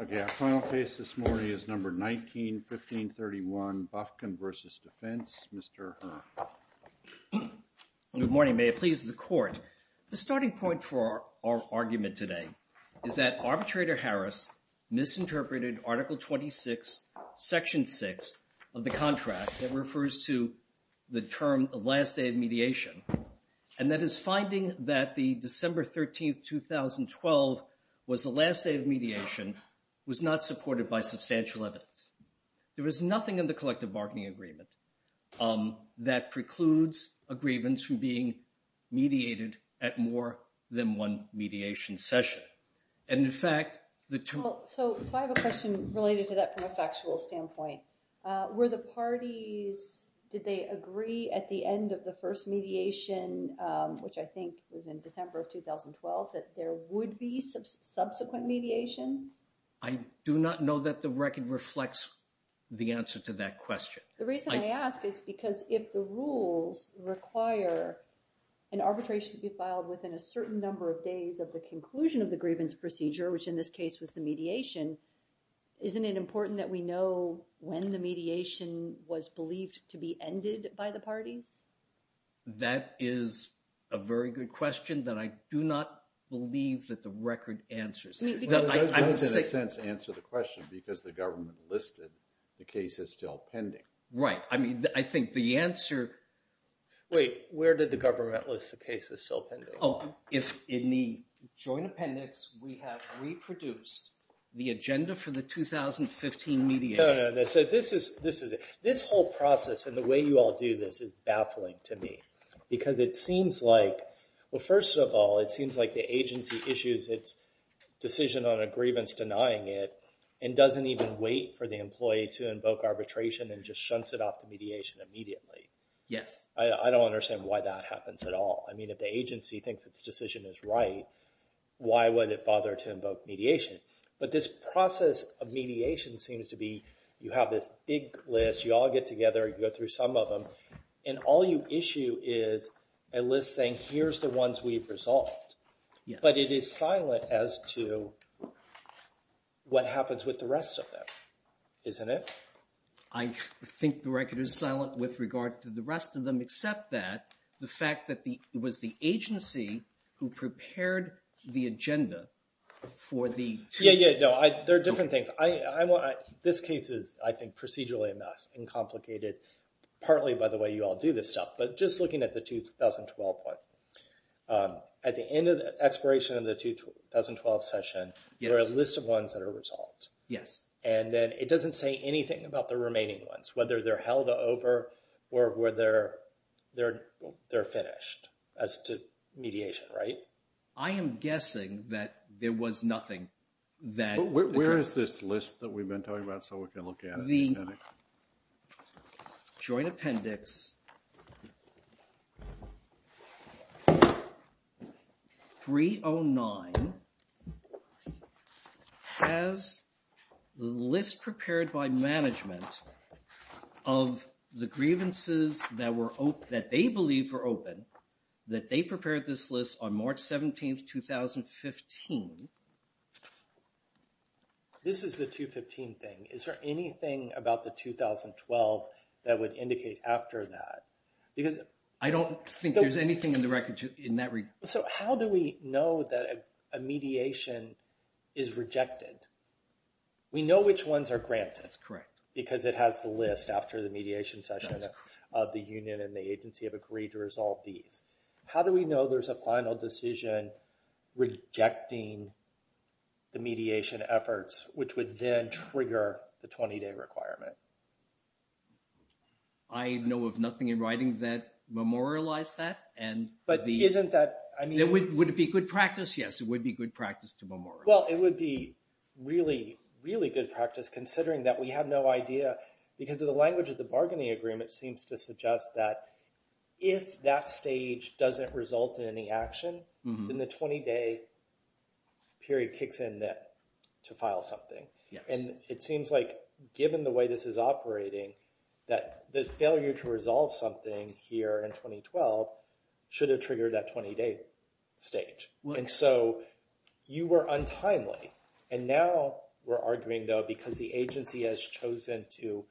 The starting point for our argument today is that Arbitrator Harris misinterpreted Article 26, Section 6 of the contract that refers to the term, the last day of mediation. And that his finding that the December 13, 2012 was the last day of mediation was not supported by substantial evidence. There was nothing in the collective bargaining agreement that precludes a grievance from being mediated at more than one mediation session. So I have a question related to that from a factual standpoint. Were the parties, did they agree at the end of the first mediation, which I think was in December of 2012, that there would be subsequent mediation? I do not know that the record reflects the answer to that question. The reason I ask is because if the rules require an arbitration to be filed within a certain number of days of the conclusion of the grievance procedure, which in this case was the mediation, isn't it important that we know when the mediation was believed to be ended by the parties? That is a very good question that I do not believe that the record answers. It does, in a sense, answer the question because the government listed the case as still pending. Right. I mean, I think the answer… Wait, where did the government list the case as still pending? In the joint appendix, we have reproduced the agenda for the 2015 mediation. No, no, no. This whole process and the way you all do this is baffling to me because it seems like… Well, first of all, it seems like the agency issues its decision on a grievance denying it and doesn't even wait for the employee to invoke arbitration and just shunts it off to mediation immediately. Yes. I don't understand why that happens at all. I mean, if the agency thinks its decision is right, why would it bother to invoke mediation? But this process of mediation seems to be you have this big list, you all get together, you go through some of them, and all you issue is a list saying here's the ones we've resolved. Yes. But it is silent as to what happens with the rest of them, isn't it? I think the record is silent with regard to the rest of them except that the fact that it was the agency who prepared the agenda for the… Yeah, yeah. No, there are different things. This case is, I think, procedurally a mess and complicated partly by the way you all do this stuff. But just looking at the 2012 one, at the end of the expiration of the 2012 session, there are a list of ones that are resolved. Yes. And then it doesn't say anything about the remaining ones, whether they're held over or whether they're finished as to mediation, right? I am guessing that there was nothing that… Where is this list that we've been talking about so we can look at it? Joint Appendix 309 has the list prepared by management of the grievances that they believe were open, that they prepared this list on March 17, 2015. This is the 2015 thing. Is there anything about the 2012 that would indicate after that? I don't think there's anything in the record in that regard. So how do we know that a mediation is rejected? We know which ones are granted. That's correct. Because it has the list after the mediation session of the union and the agency have agreed to resolve these. How do we know there's a final decision rejecting the mediation efforts, which would then trigger the 20-day requirement? I know of nothing in writing that memorialized that. But isn't that… Would it be good practice? Yes, it would be good practice to memorialize. Well, it would be really, really good practice considering that we have no idea because of the language of the bargaining agreement seems to suggest that if that stage doesn't result in any action, then the 20-day period kicks in to file something. And it seems like given the way this is operating that the failure to resolve something here in 2012 should have triggered that 20-day stage. And so you were untimely. And now we're arguing, though, because the agency has chosen to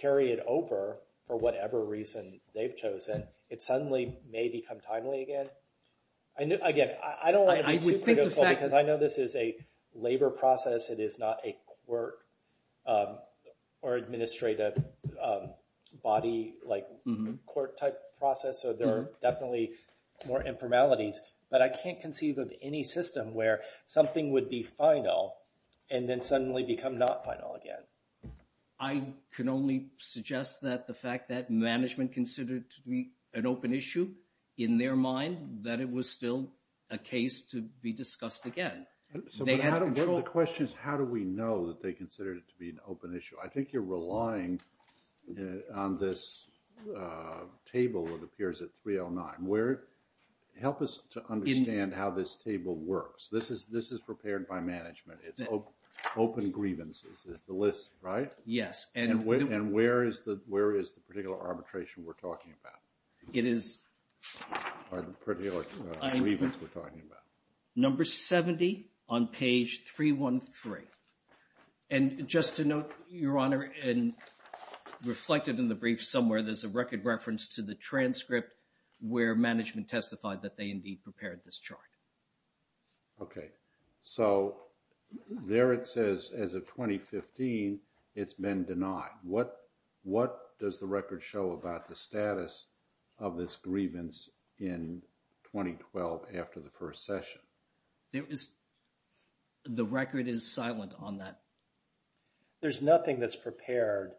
carry it over for whatever reason they've chosen, it suddenly may become timely again. Again, I don't want to be too critical because I know this is a labor process. It is not a court or administrative body like court type process. So there are definitely more informalities. But I can't conceive of any system where something would be final and then suddenly become not final again. I can only suggest that the fact that management considered to be an open issue in their mind that it was still a case to be discussed again. The question is, how do we know that they considered it to be an open issue? I think you're relying on this table that appears at 309. Help us to understand how this table works. This is prepared by management. It's open grievances is the list, right? Yes. And where is the particular arbitration we're talking about? It is... Or the particular grievance we're talking about. Number 70 on page 313. And just to note, Your Honor, and reflected in the brief somewhere, there's a record reference to the transcript where management testified that they indeed prepared this chart. Okay. So there it says, as of 2015, it's been denied. What does the record show about the status of this grievance in 2012 after the first session? The record is silent on that. There's nothing that's prepared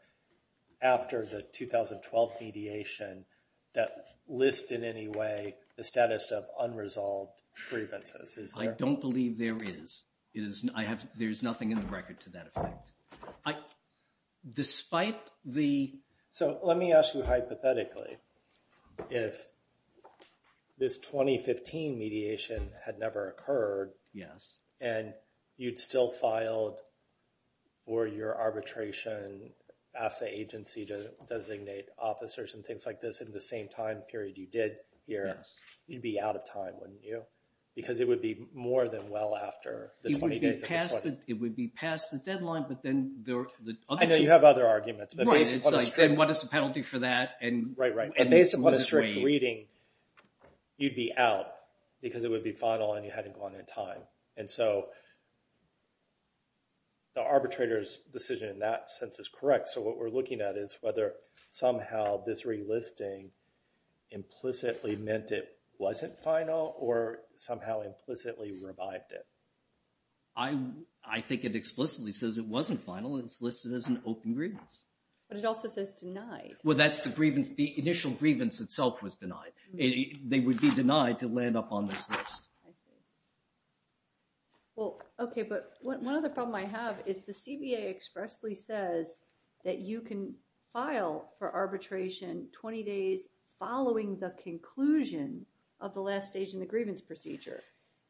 after the 2012 mediation that lists in any way the status of unresolved grievances. I don't believe there is. There's nothing in the record to that effect. Despite the... So let me ask you hypothetically, if this 2015 mediation had never occurred... Yes. And you'd still filed for your arbitration, ask the agency to designate officers and things like this in the same time period you did here. Yes. You'd be out of time, wouldn't you? Because it would be more than well after the 20 days of the 20th. It would be past the deadline, but then the other... I know you have other arguments. Right. It's like, then what is the penalty for that? Right, right. And based upon a strict reading, you'd be out because it would be final and you hadn't gone in time. And so the arbitrator's decision in that sense is correct. So what we're looking at is whether somehow this relisting implicitly meant it wasn't final or somehow implicitly revived it. I think it explicitly says it wasn't final and it's listed as an open grievance. But it also says denied. Well, that's the initial grievance itself was denied. They would be denied to land up on this list. I see. Well, okay, but one other problem I have is the CBA expressly says that you can file for arbitration 20 days following the conclusion of the last stage in the grievance procedure.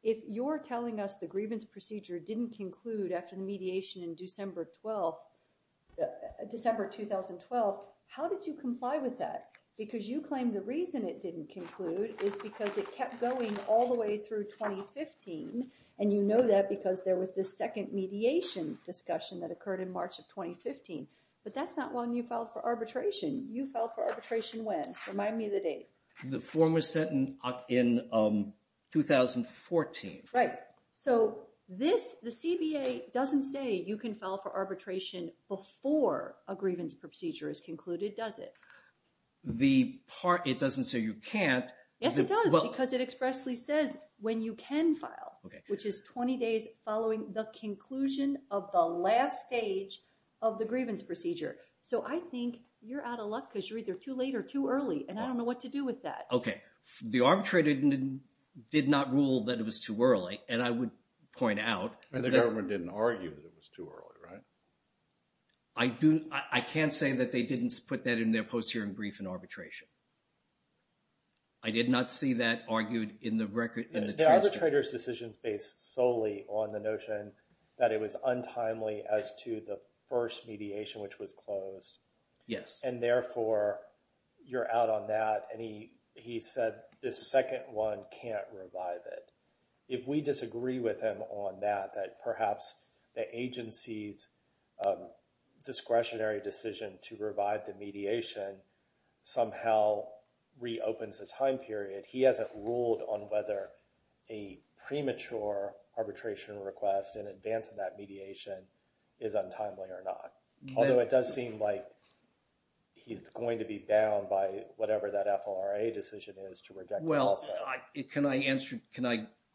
If you're telling us the grievance procedure didn't conclude after the mediation in December 2012, how did you comply with that? Because you claim the reason it didn't conclude is because it kept going all the way through 2015. And you know that because there was this second mediation discussion that occurred in March of 2015. But that's not when you filed for arbitration. You filed for arbitration when? Remind me of the date. The form was sent in 2014. Right. So the CBA doesn't say you can file for arbitration before a grievance procedure is concluded, does it? It doesn't say you can't. Yes, it does because it expressly says when you can file, which is 20 days following the conclusion of the last stage of the grievance procedure. So I think you're out of luck because you're either too late or too early. And I don't know what to do with that. Okay. The arbitrator did not rule that it was too early. And I would point out. And the government didn't argue that it was too early, right? I can't say that they didn't put that in their post-hearing brief in arbitration. I did not see that argued in the record. The arbitrator's decision is based solely on the notion that it was untimely as to the first mediation, which was closed. Yes. And therefore, you're out on that. And he said the second one can't revive it. If we disagree with him on that, that perhaps the agency's discretionary decision to revive the mediation somehow reopens the time period. He hasn't ruled on whether a premature arbitration request in advance of that mediation is untimely or not. Although it does seem like he's going to be bound by whatever that FLRA decision is to reject it also. Can I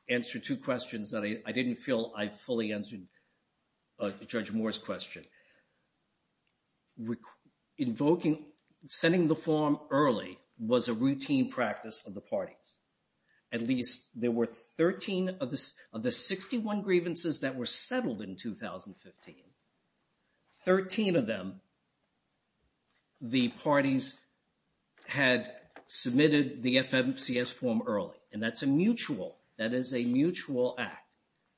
answer two questions that I didn't feel I fully answered Judge Moore's question? Invoking – sending the form early was a routine practice of the parties. At least there were 13 of the 61 grievances that were settled in 2015. Thirteen of them, the parties had submitted the FMCS form early. And that's a mutual – that is a mutual act.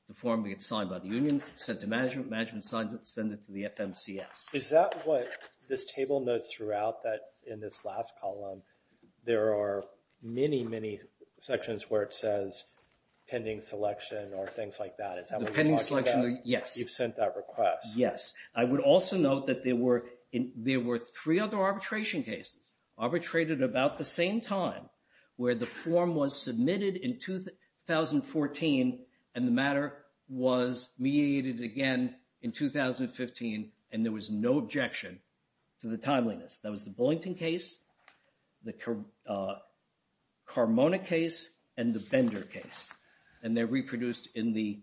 The form gets signed by the union, sent to management, management signs it, sends it to the FMCS. Is that what this table notes throughout that in this last column there are many, many sections where it says pending selection or things like that? Is that what you're talking about? Pending selection, yes. You've sent that request? Yes. I would also note that there were three other arbitration cases arbitrated about the same time where the form was submitted in 2014 and the matter was mediated again in 2015 and there was no objection to the timeliness. That was the Bullington case, the Carmona case, and the Bender case. And they're reproduced in the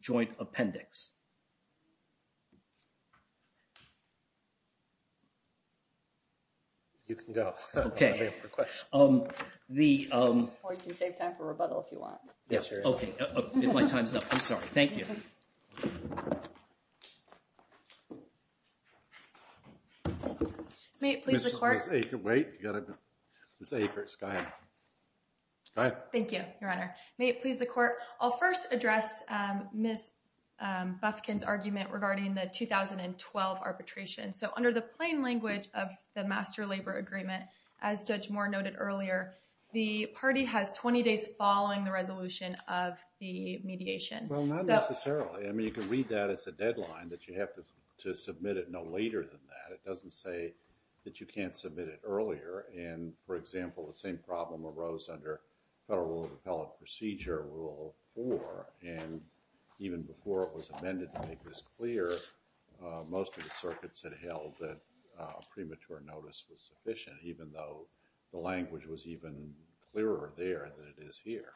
joint appendix. You can go. Okay. Or you can save time for rebuttal if you want. Yes, sure. Okay. If my time's up. I'm sorry. Thank you. May it please the Court? Wait. You've got to say it first. Go ahead. Go ahead. Thank you, Your Honor. May it please the Court? I'll first address Ms. Bufkin's argument regarding the 2012 arbitration. So under the plain language of the Master Labor Agreement, as Judge Moore noted earlier, the party has 20 days following the resolution of the mediation. Well, not necessarily. I mean, you can read that as a deadline that you have to submit it no later than that. It doesn't say that you can't submit it earlier. And, for example, the same problem arose under Federal Rule of Appellate Procedure, Rule 4. And even before it was amended to make this clear, most of the circuits had held that premature notice was sufficient, even though the language was even clearer there than it is here.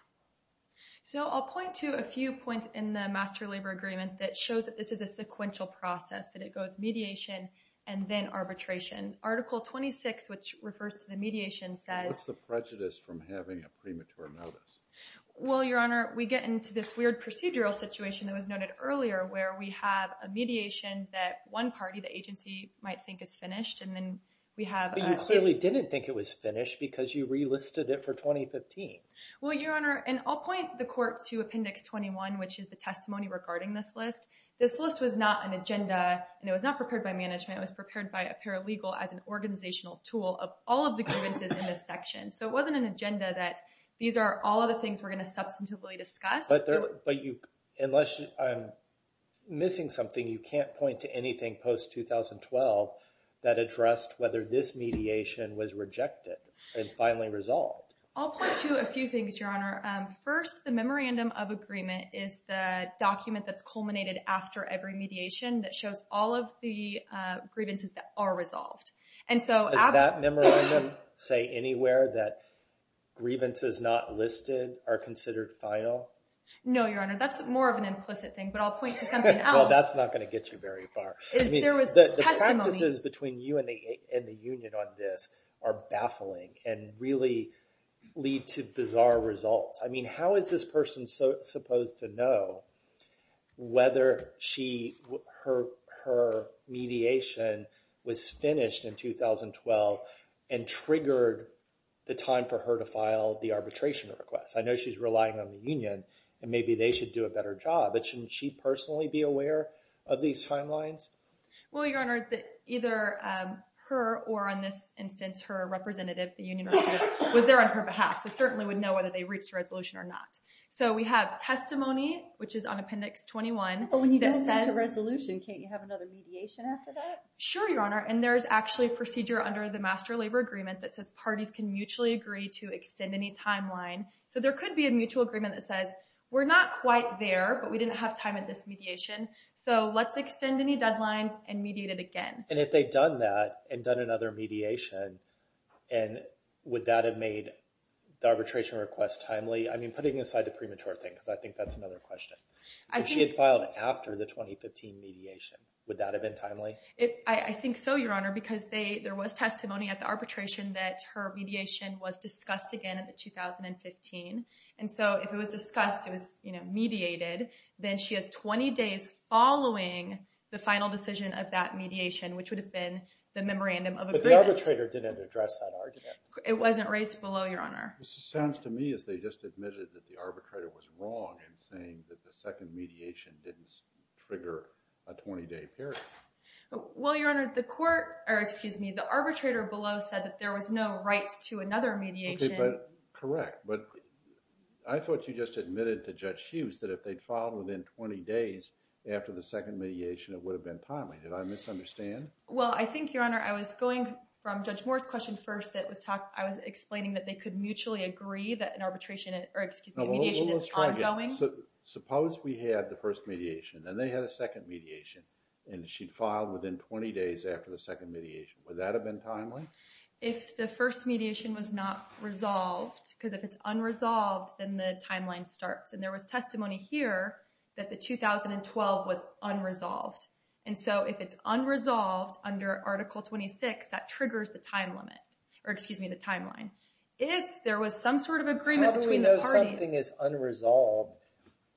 So I'll point to a few points in the Master Labor Agreement that shows that this is a sequential process, that it goes mediation and then arbitration. Article 26, which refers to the mediation, says… What's the prejudice from having a premature notice? Well, Your Honor, we get into this weird procedural situation that was noted earlier where we have a mediation that one party, the agency, might think is finished, and then we have… But you clearly didn't think it was finished because you relisted it for 2015. Well, Your Honor, and I'll point the court to Appendix 21, which is the testimony regarding this list. This list was not an agenda, and it was not prepared by management. It was prepared by a paralegal as an organizational tool of all of the grievances in this section. So it wasn't an agenda that these are all of the things we're going to substantively discuss. But unless I'm missing something, you can't point to anything post-2012 that addressed whether this mediation was rejected and finally resolved. I'll point to a few things, Your Honor. First, the memorandum of agreement is the document that's culminated after every mediation that shows all of the grievances that are resolved. Does that memorandum say anywhere that grievances not listed are considered final? No, Your Honor. That's more of an implicit thing, but I'll point to something else. Well, that's not going to get you very far. There was testimony… The practices between you and the union on this are baffling and really lead to bizarre results. I mean, how is this person supposed to know whether her mediation was finished in 2012 and triggered the time for her to file the arbitration request? I know she's relying on the union, and maybe they should do a better job, but shouldn't she personally be aware of these timelines? Well, Your Honor, either her or, in this instance, her representative, the union manager, was there on her behalf, so certainly would know whether they reached a resolution or not. So we have testimony, which is on Appendix 21. But when you do reach a resolution, can't you have another mediation after that? Sure, Your Honor, and there's actually a procedure under the Master Labor Agreement that says parties can mutually agree to extend any timeline. So there could be a mutual agreement that says, we're not quite there, but we didn't have time at this mediation, so let's extend any deadlines and mediate it again. And if they've done that and done another mediation, would that have made the arbitration request timely? I mean, putting aside the premature thing, because I think that's another question. If she had filed after the 2015 mediation, would that have been timely? I think so, Your Honor, because there was testimony at the arbitration that her mediation was discussed again in 2015. And so if it was discussed, it was mediated, then she has 20 days following the final decision of that mediation, which would have been the memorandum of agreement. But the arbitrator didn't address that argument. It wasn't raised below, Your Honor. This sounds to me as they just admitted that the arbitrator was wrong in saying that the second mediation didn't trigger a 20-day period. Well, Your Honor, the arbitrator below said that there was no rights to another mediation. Okay, but correct. But I thought you just admitted to Judge Hughes that if they'd filed within 20 days after the second mediation, it would have been timely. Did I misunderstand? Well, I think, Your Honor, I was going from Judge Moore's question first that I was explaining that they could mutually agree that mediation is ongoing. Suppose we had the first mediation, and they had a second mediation, and she'd filed within 20 days after the second mediation. Would that have been timely? If the first mediation was not resolved, because if it's unresolved, then the timeline starts. And there was testimony here that the 2012 was unresolved. And so if it's unresolved under Article 26, that triggers the timeline. How do we know something is unresolved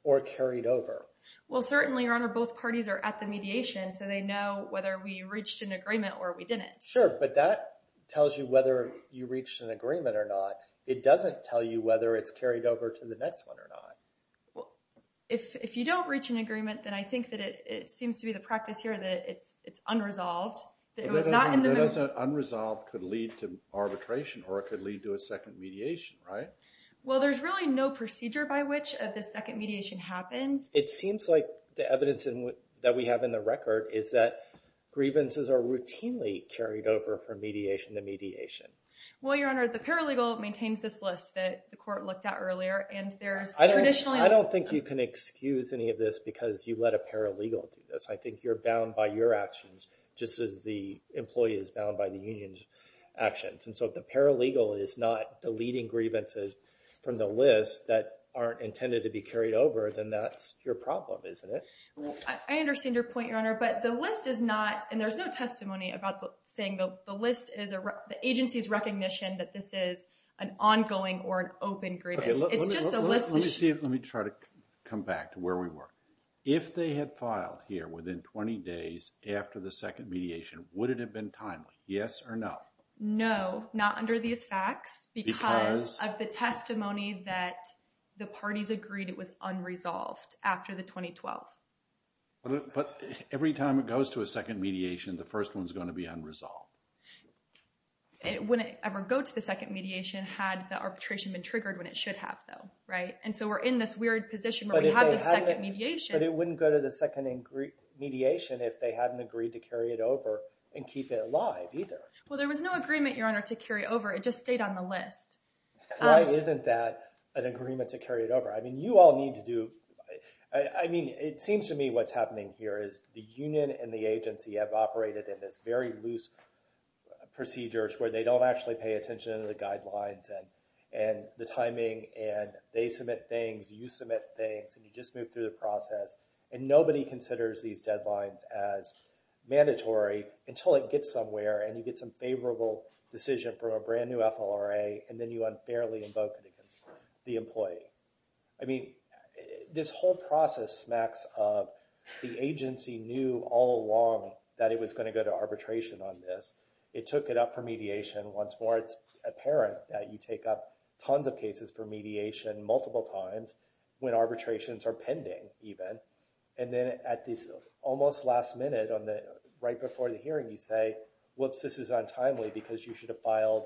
or carried over? Well, certainly, Your Honor, both parties are at the mediation, so they know whether we reached an agreement or we didn't. Sure, but that tells you whether you reached an agreement or not. It doesn't tell you whether it's carried over to the next one or not. Well, if you don't reach an agreement, then I think that it seems to be the practice here that it's unresolved. But doesn't unresolved could lead to arbitration, or it could lead to a second mediation, right? Well, there's really no procedure by which the second mediation happens. It seems like the evidence that we have in the record is that grievances are routinely carried over from mediation to mediation. Well, Your Honor, the paralegal maintains this list that the court looked at earlier. I don't think you can excuse any of this because you let a paralegal do this. I think you're bound by your actions just as the employee is bound by the union's actions. And so if the paralegal is not deleting grievances from the list that aren't intended to be carried over, then that's your problem, isn't it? Well, I understand your point, Your Honor, but the list is not, and there's no testimony about saying the list is, the agency's recognition that this is an ongoing or an open grievance. It's just a list issue. Let me try to come back to where we were. If they had filed here within 20 days after the second mediation, would it have been timely, yes or no? No, not under these facts because of the testimony that the parties agreed it was unresolved after the 2012. But every time it goes to a second mediation, the first one's going to be unresolved. It wouldn't ever go to the second mediation had the arbitration been triggered when it should have, though, right? And so we're in this weird position where we have the second mediation. But it wouldn't go to the second mediation if they hadn't agreed to carry it over and keep it live either. Well, there was no agreement, Your Honor, to carry it over. It just stayed on the list. Why isn't that an agreement to carry it over? I mean, you all need to do – I mean, it seems to me what's happening here is the union and the agency have operated in this very loose procedure where they don't actually pay attention to the guidelines and the timing, and they submit things, you submit things, and you just move through the process. And nobody considers these deadlines as mandatory until it gets somewhere and you get some favorable decision from a brand-new FLRA, and then you unfairly invoke it against the employee. I mean, this whole process smacks of the agency knew all along that it was going to go to arbitration on this. It took it up for mediation. Once more, it's apparent that you take up tons of cases for mediation multiple times when arbitrations are pending even. And then at this almost last minute, right before the hearing, you say, whoops, this is untimely because you should have filed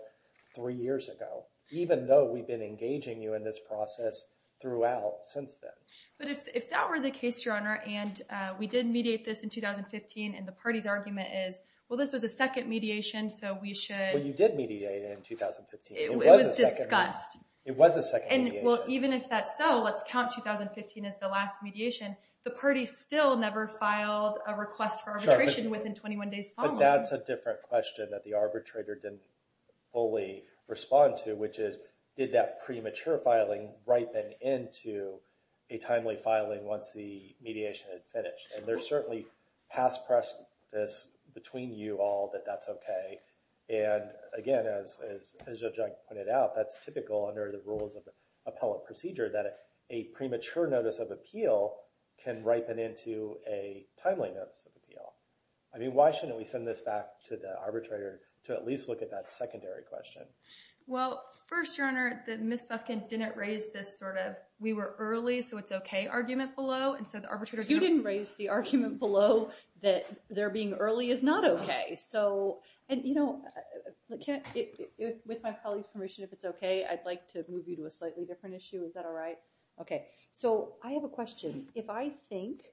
three years ago, even though we've been engaging you in this process throughout since then. But if that were the case, Your Honor, and we did mediate this in 2015, and the party's argument is, well, this was a second mediation, so we should – Well, you did mediate it in 2015. It was discussed. It was a second mediation. And, well, even if that's so, let's count 2015 as the last mediation. The party still never filed a request for arbitration within 21 days following. But that's a different question that the arbitrator didn't fully respond to, which is did that premature filing ripen into a timely filing once the mediation had finished? And there's certainly past press this between you all that that's okay. And, again, as Judge Ike pointed out, that's typical under the rules of appellate procedure that a premature notice of appeal can ripen into a timely notice of appeal. I mean, why shouldn't we send this back to the arbitrator to at least look at that secondary question? Well, first, Your Honor, Ms. Bufkin didn't raise this sort of we were early, so it's okay argument below. You didn't raise the argument below that there being early is not okay. And, you know, with my colleague's permission, if it's okay, I'd like to move you to a slightly different issue. Is that all right? Okay. So I have a question. If I think,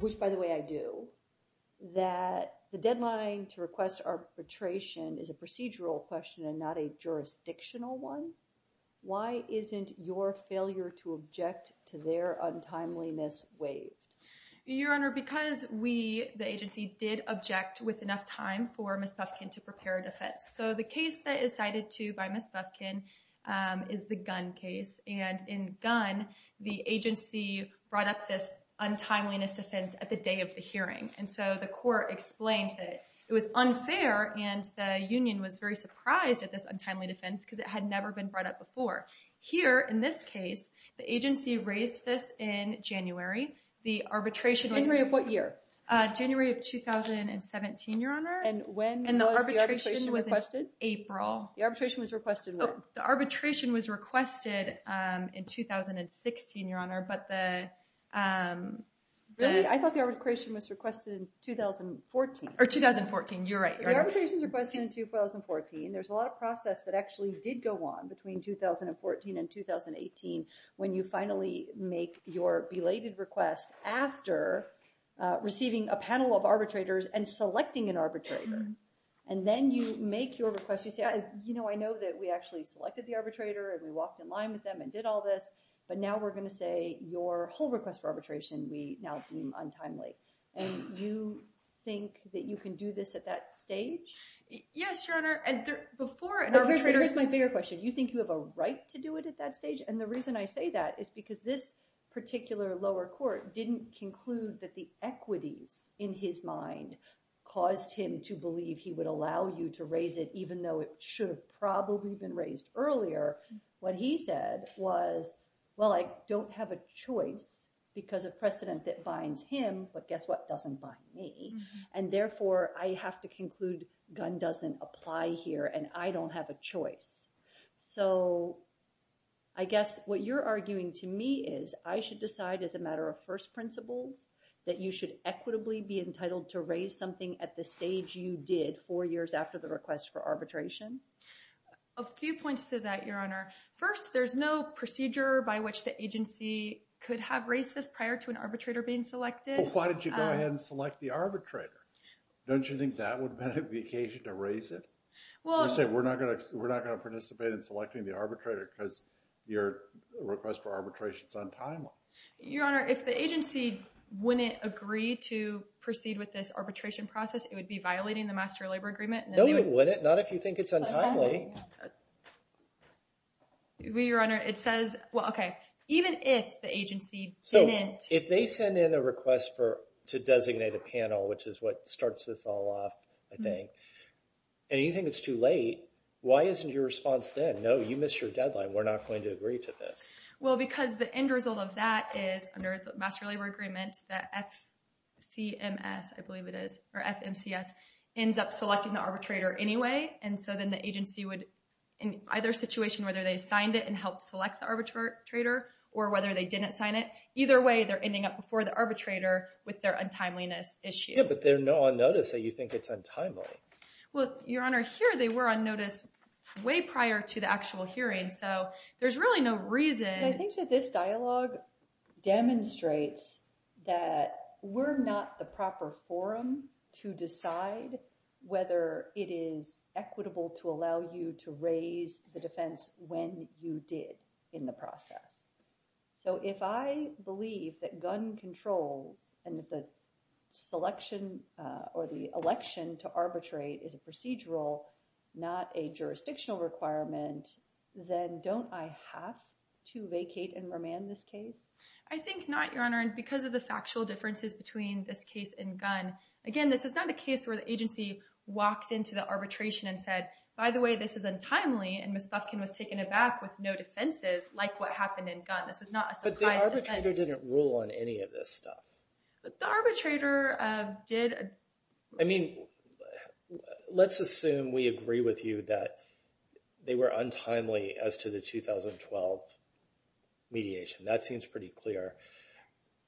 which, by the way, I do, that the deadline to request arbitration is a procedural question and not a jurisdictional one, why isn't your failure to object to their untimeliness waived? Your Honor, because we, the agency, did object with enough time for Ms. Bufkin to prepare a defense. So the case that is cited to by Ms. Bufkin is the Gunn case. And in Gunn, the agency brought up this untimeliness defense at the day of the hearing. And so the court explained that it was unfair. And the union was very surprised at this untimely defense because it had never been brought up before. Here, in this case, the agency raised this in January. The arbitration. January of what year? January of 2017, Your Honor. And when was the arbitration requested? In April. The arbitration was requested in 2016, Your Honor. Really? I thought the arbitration was requested in 2014. Or 2014. You're right. The arbitration was requested in 2014. There's a lot of process that actually did go on between 2014 and 2018 when you finally make your belated request after receiving a panel of arbitrators and selecting an arbitrator. And then you make your request. You say, you know, I know that we actually selected the arbitrator and we walked in line with them and did all this. But now we're going to say your whole request for arbitration we now deem untimely. And you think that you can do this at that stage? Yes, Your Honor. And before an arbitrator— Here's my bigger question. You think you have a right to do it at that stage? And the reason I say that is because this particular lower court didn't conclude that the equities in his mind caused him to believe he would allow you to raise it even though it should have probably been raised earlier. What he said was, well, I don't have a choice because of precedent that binds him. But guess what? Doesn't bind me. And therefore I have to conclude Gunn doesn't apply here and I don't have a choice. So I guess what you're arguing to me is I should decide as a matter of first principles that you should equitably be entitled to raise something at the stage you did four years after the request for arbitration. A few points to that, Your Honor. First, there's no procedure by which the agency could have raised this prior to an arbitrator being selected. Why did you go ahead and select the arbitrator? Don't you think that would be an occasion to raise it? We're not going to participate in selecting the arbitrator because your request for arbitration is untimely. Your Honor, if the agency wouldn't agree to proceed with this arbitration process, it would be violating the Master Labor Agreement. No, it wouldn't. Not if you think it's untimely. Your Honor, it says – well, okay. Even if the agency didn't. If they send in a request to designate a panel, which is what starts this all off, I think, and you think it's too late, why isn't your response then, no, you missed your deadline, we're not going to agree to this? Well, because the end result of that is, under the Master Labor Agreement, the FCMS, I believe it is, or FMCS, ends up selecting the arbitrator anyway, and so then the agency would, in either situation, whether they signed it and helped select the arbitrator or whether they didn't sign it, either way, they're ending up before the arbitrator with their untimeliness issue. Yeah, but they're not on notice, so you think it's untimely. Well, Your Honor, here they were on notice way prior to the actual hearing, so there's really no reason. I think that this dialogue demonstrates that we're not the proper forum to decide whether it is equitable to allow you to raise the defense when you did in the process. So if I believe that gun controls and that the selection or the election to arbitrate is a procedural, not a jurisdictional requirement, then don't I have to vacate and remand this case? I think not, Your Honor, and because of the factual differences between this case and Gunn, again, this is not a case where the agency walked into the arbitration and said, by the way, this is untimely, and Ms. Lufkin was taken aback with no defenses like what happened in Gunn. This was not a surprise defense. But the arbitrator didn't rule on any of this stuff. The arbitrator did. I mean, let's assume we agree with you that they were untimely as to the 2012 mediation. That seems pretty clear.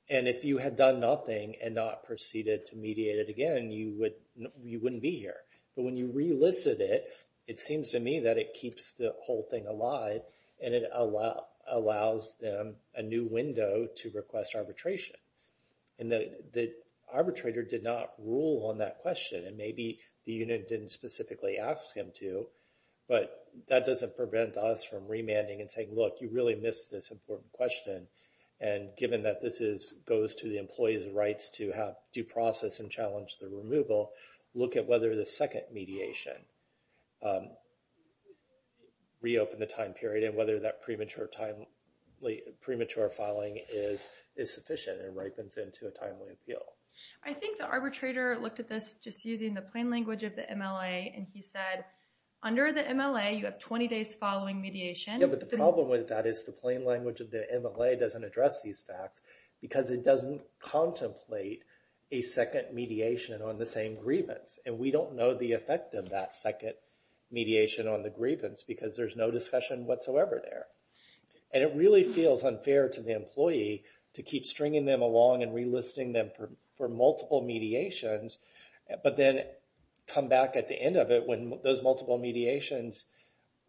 And if you had done nothing and not proceeded to mediate it again, you wouldn't be here. But when you relisted it, it seems to me that it keeps the whole thing alive, and it allows them a new window to request arbitration. And the arbitrator did not rule on that question, and maybe the unit didn't specifically ask him to, but that doesn't prevent us from remanding and saying, look, you really missed this important question, and given that this goes to the employee's rights to have due process and challenge the removal, look at whether the second mediation reopened the time period and whether that premature filing is sufficient and ripens into a timely appeal. I think the arbitrator looked at this just using the plain language of the MLA, and he said, under the MLA, you have 20 days following mediation. Yeah, but the problem with that is the plain language of the MLA doesn't address these facts because it doesn't contemplate a second mediation on the same grievance. And we don't know the effect of that second mediation on the grievance because there's no discussion whatsoever there. And it really feels unfair to the employee to keep stringing them along and relisting them for multiple mediations, but then come back at the end of it when those multiple mediations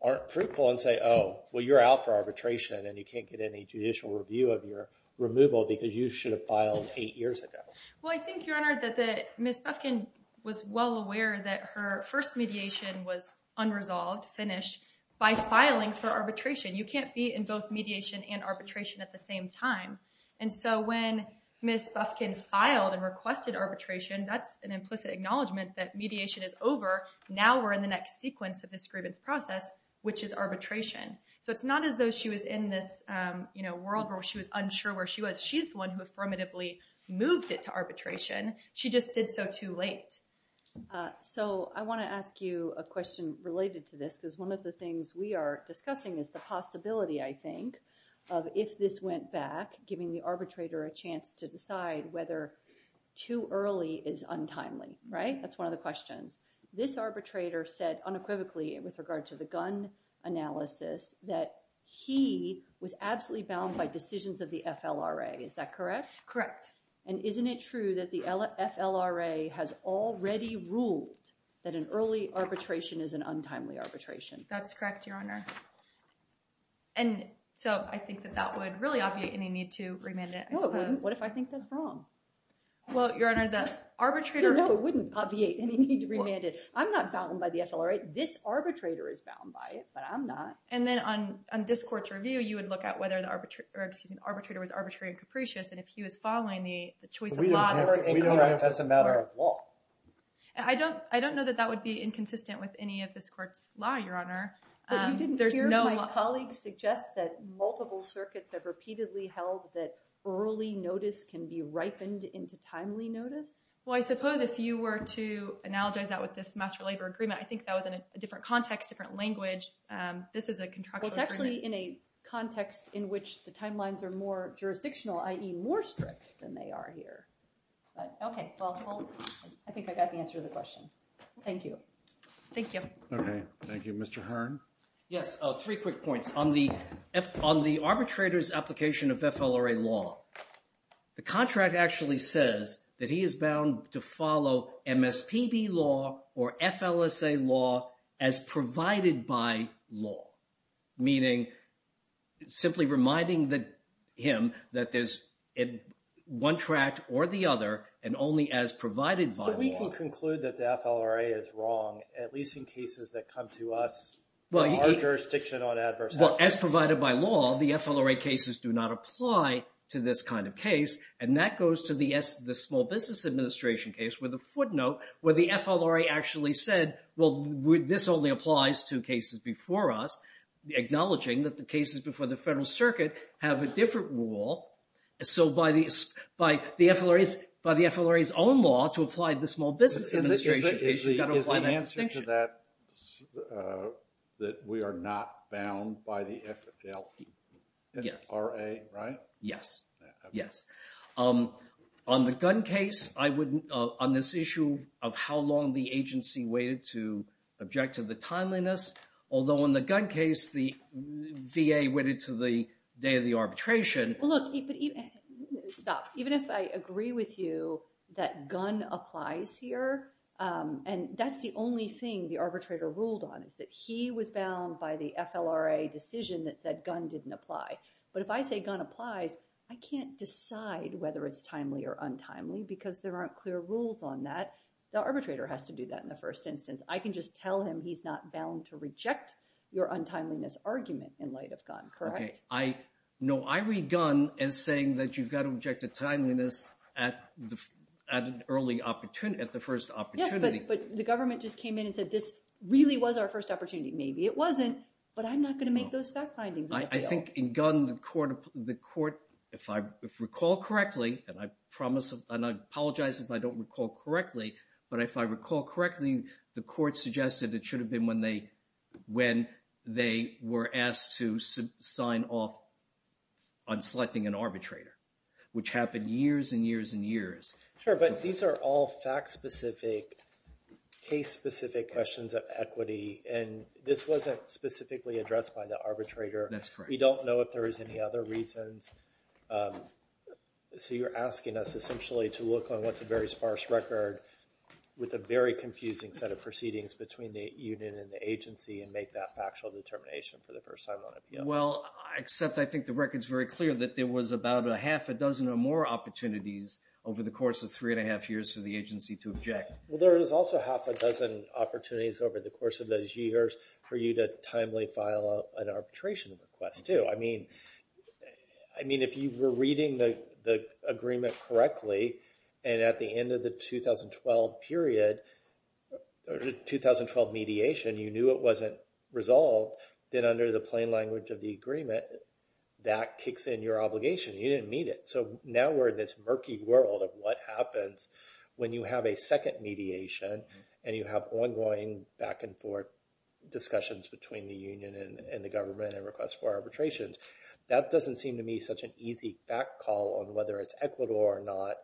aren't fruitful and say, oh, well, you're out for arbitration and you can't get any judicial review of your removal because you should have filed eight years ago. Well, I think, Your Honor, that Ms. Bufkin was well aware that her first mediation was unresolved, finished, by filing for arbitration. You can't be in both mediation and arbitration at the same time. And so when Ms. Bufkin filed and requested arbitration, that's an implicit acknowledgment that mediation is over. Now we're in the next sequence of this grievance process, which is arbitration. So it's not as though she was in this world where she was unsure where she was. She's the one who affirmatively moved it to arbitration. She just did so too late. So I want to ask you a question related to this, because one of the things we are discussing is the possibility, I think, of if this went back, giving the arbitrator a chance to decide whether too early is untimely, right? That's one of the questions. This arbitrator said unequivocally with regard to the gun analysis that he was absolutely bound by decisions of the FLRA. Is that correct? Correct. And isn't it true that the FLRA has already ruled that an early arbitration is an untimely arbitration? That's correct, Your Honor. And so I think that that would really obviate any need to remand it. No, it wouldn't. What if I think that's wrong? Well, Your Honor, the arbitrator— No, it wouldn't obviate any need to remand it. I'm not bound by the FLRA. This arbitrator is bound by it, but I'm not. And then on this court's review, you would look at whether the arbitrator was arbitrary and capricious, and if he was following the choice of law— We don't write as a matter of law. I don't know that that would be inconsistent with any of this court's law, Your Honor. But you didn't hear my colleague suggest that multiple circuits have repeatedly held that early notice can be ripened into timely notice? Well, I suppose if you were to analogize that with this master labor agreement, I think that was in a different context, different language. This is a contractual agreement. Well, it's actually in a context in which the timelines are more jurisdictional, i.e. more strict than they are here. Okay, well, I think I got the answer to the question. Thank you. Thank you. Okay, thank you. Mr. Hearn? Yes, three quick points. On the arbitrator's application of FLRA law, the contract actually says that he is bound to follow MSPB law or FLSA law as provided by law, meaning simply reminding him that there's one tract or the other and only as provided by law. If you conclude that the FLRA is wrong, at least in cases that come to us, there's jurisdiction on adverse actions. Well, as provided by law, the FLRA cases do not apply to this kind of case. And that goes to the Small Business Administration case with a footnote where the FLRA actually said, well, this only applies to cases before us, acknowledging that the cases before the Federal Circuit have a different rule. So by the FLRA's own law to apply to the Small Business Administration case, you've got to apply that distinction. Is the answer to that that we are not bound by the FLRA, right? Yes, yes. On the gun case, on this issue of how long the agency waited to object to the timeliness, although in the gun case, the VA waited to the day of the arbitration. Look, stop. Even if I agree with you that gun applies here, and that's the only thing the arbitrator ruled on is that he was bound by the FLRA decision that said gun didn't apply. But if I say gun applies, I can't decide whether it's timely or untimely because there aren't clear rules on that. The arbitrator has to do that in the first instance. I can just tell him he's not bound to reject your untimeliness argument in light of gun, correct? No, I read gun as saying that you've got to object to timeliness at the first opportunity. Yes, but the government just came in and said this really was our first opportunity. Maybe it wasn't, but I'm not going to make those fact findings. I think in gun, the court, if I recall correctly, and I apologize if I don't recall correctly, but if I recall correctly, the court suggested it should have been when they were asked to sign off on selecting an arbitrator, which happened years and years and years. Sure, but these are all fact-specific, case-specific questions of equity, and this wasn't specifically addressed by the arbitrator. That's correct. We don't know if there is any other reasons. So you're asking us essentially to look on what's a very sparse record with a very confusing set of proceedings between the union and the agency and make that factual determination for the first time on it. Well, except I think the record's very clear that there was about a half a dozen or more opportunities over the course of three and a half years for the agency to object. Well, there was also half a dozen opportunities over the course of those years for you to timely file an arbitration request, too. I mean, if you were reading the agreement correctly and at the end of the 2012 period, 2012 mediation, you knew it wasn't resolved, then under the plain language of the agreement, that kicks in your obligation. You didn't meet it. So now we're in this murky world of what happens when you have a second mediation and you have ongoing back-and-forth discussions between the union and the government and requests for arbitrations. That doesn't seem to me such an easy back call on whether it's equitable or not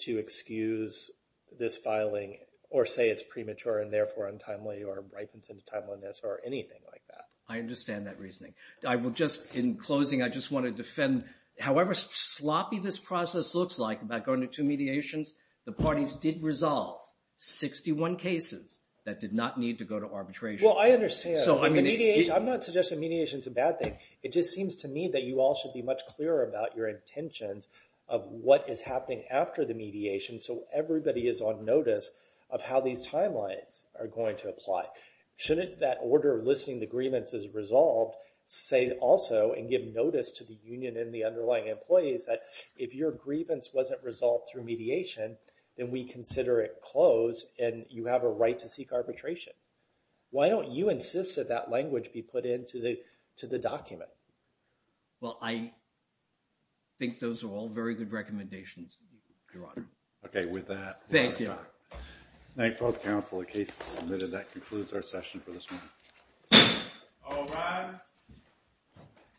to excuse this filing or say it's premature and therefore untimely or ripens into timeliness or anything like that. I understand that reasoning. In closing, I just want to defend however sloppy this process looks like about going to two mediations, the parties did resolve 61 cases that did not need to go to arbitration. Well, I understand. I'm not suggesting mediation's a bad thing. It just seems to me that you all should be much clearer about your intentions of what is happening after the mediation so everybody is on notice of how these timelines are going to apply. Shouldn't that order listing the grievance as resolved say also and give notice to the union and the underlying employees that if your grievance wasn't resolved through mediation, then we consider it closed and you have a right to seek arbitration? Why don't you insist that that language be put into the document? Well, I think those are all very good recommendations. Your Honor. Okay, with that. Thank you. Thank both counsel. The case is submitted. That concludes our session for this morning. All rise.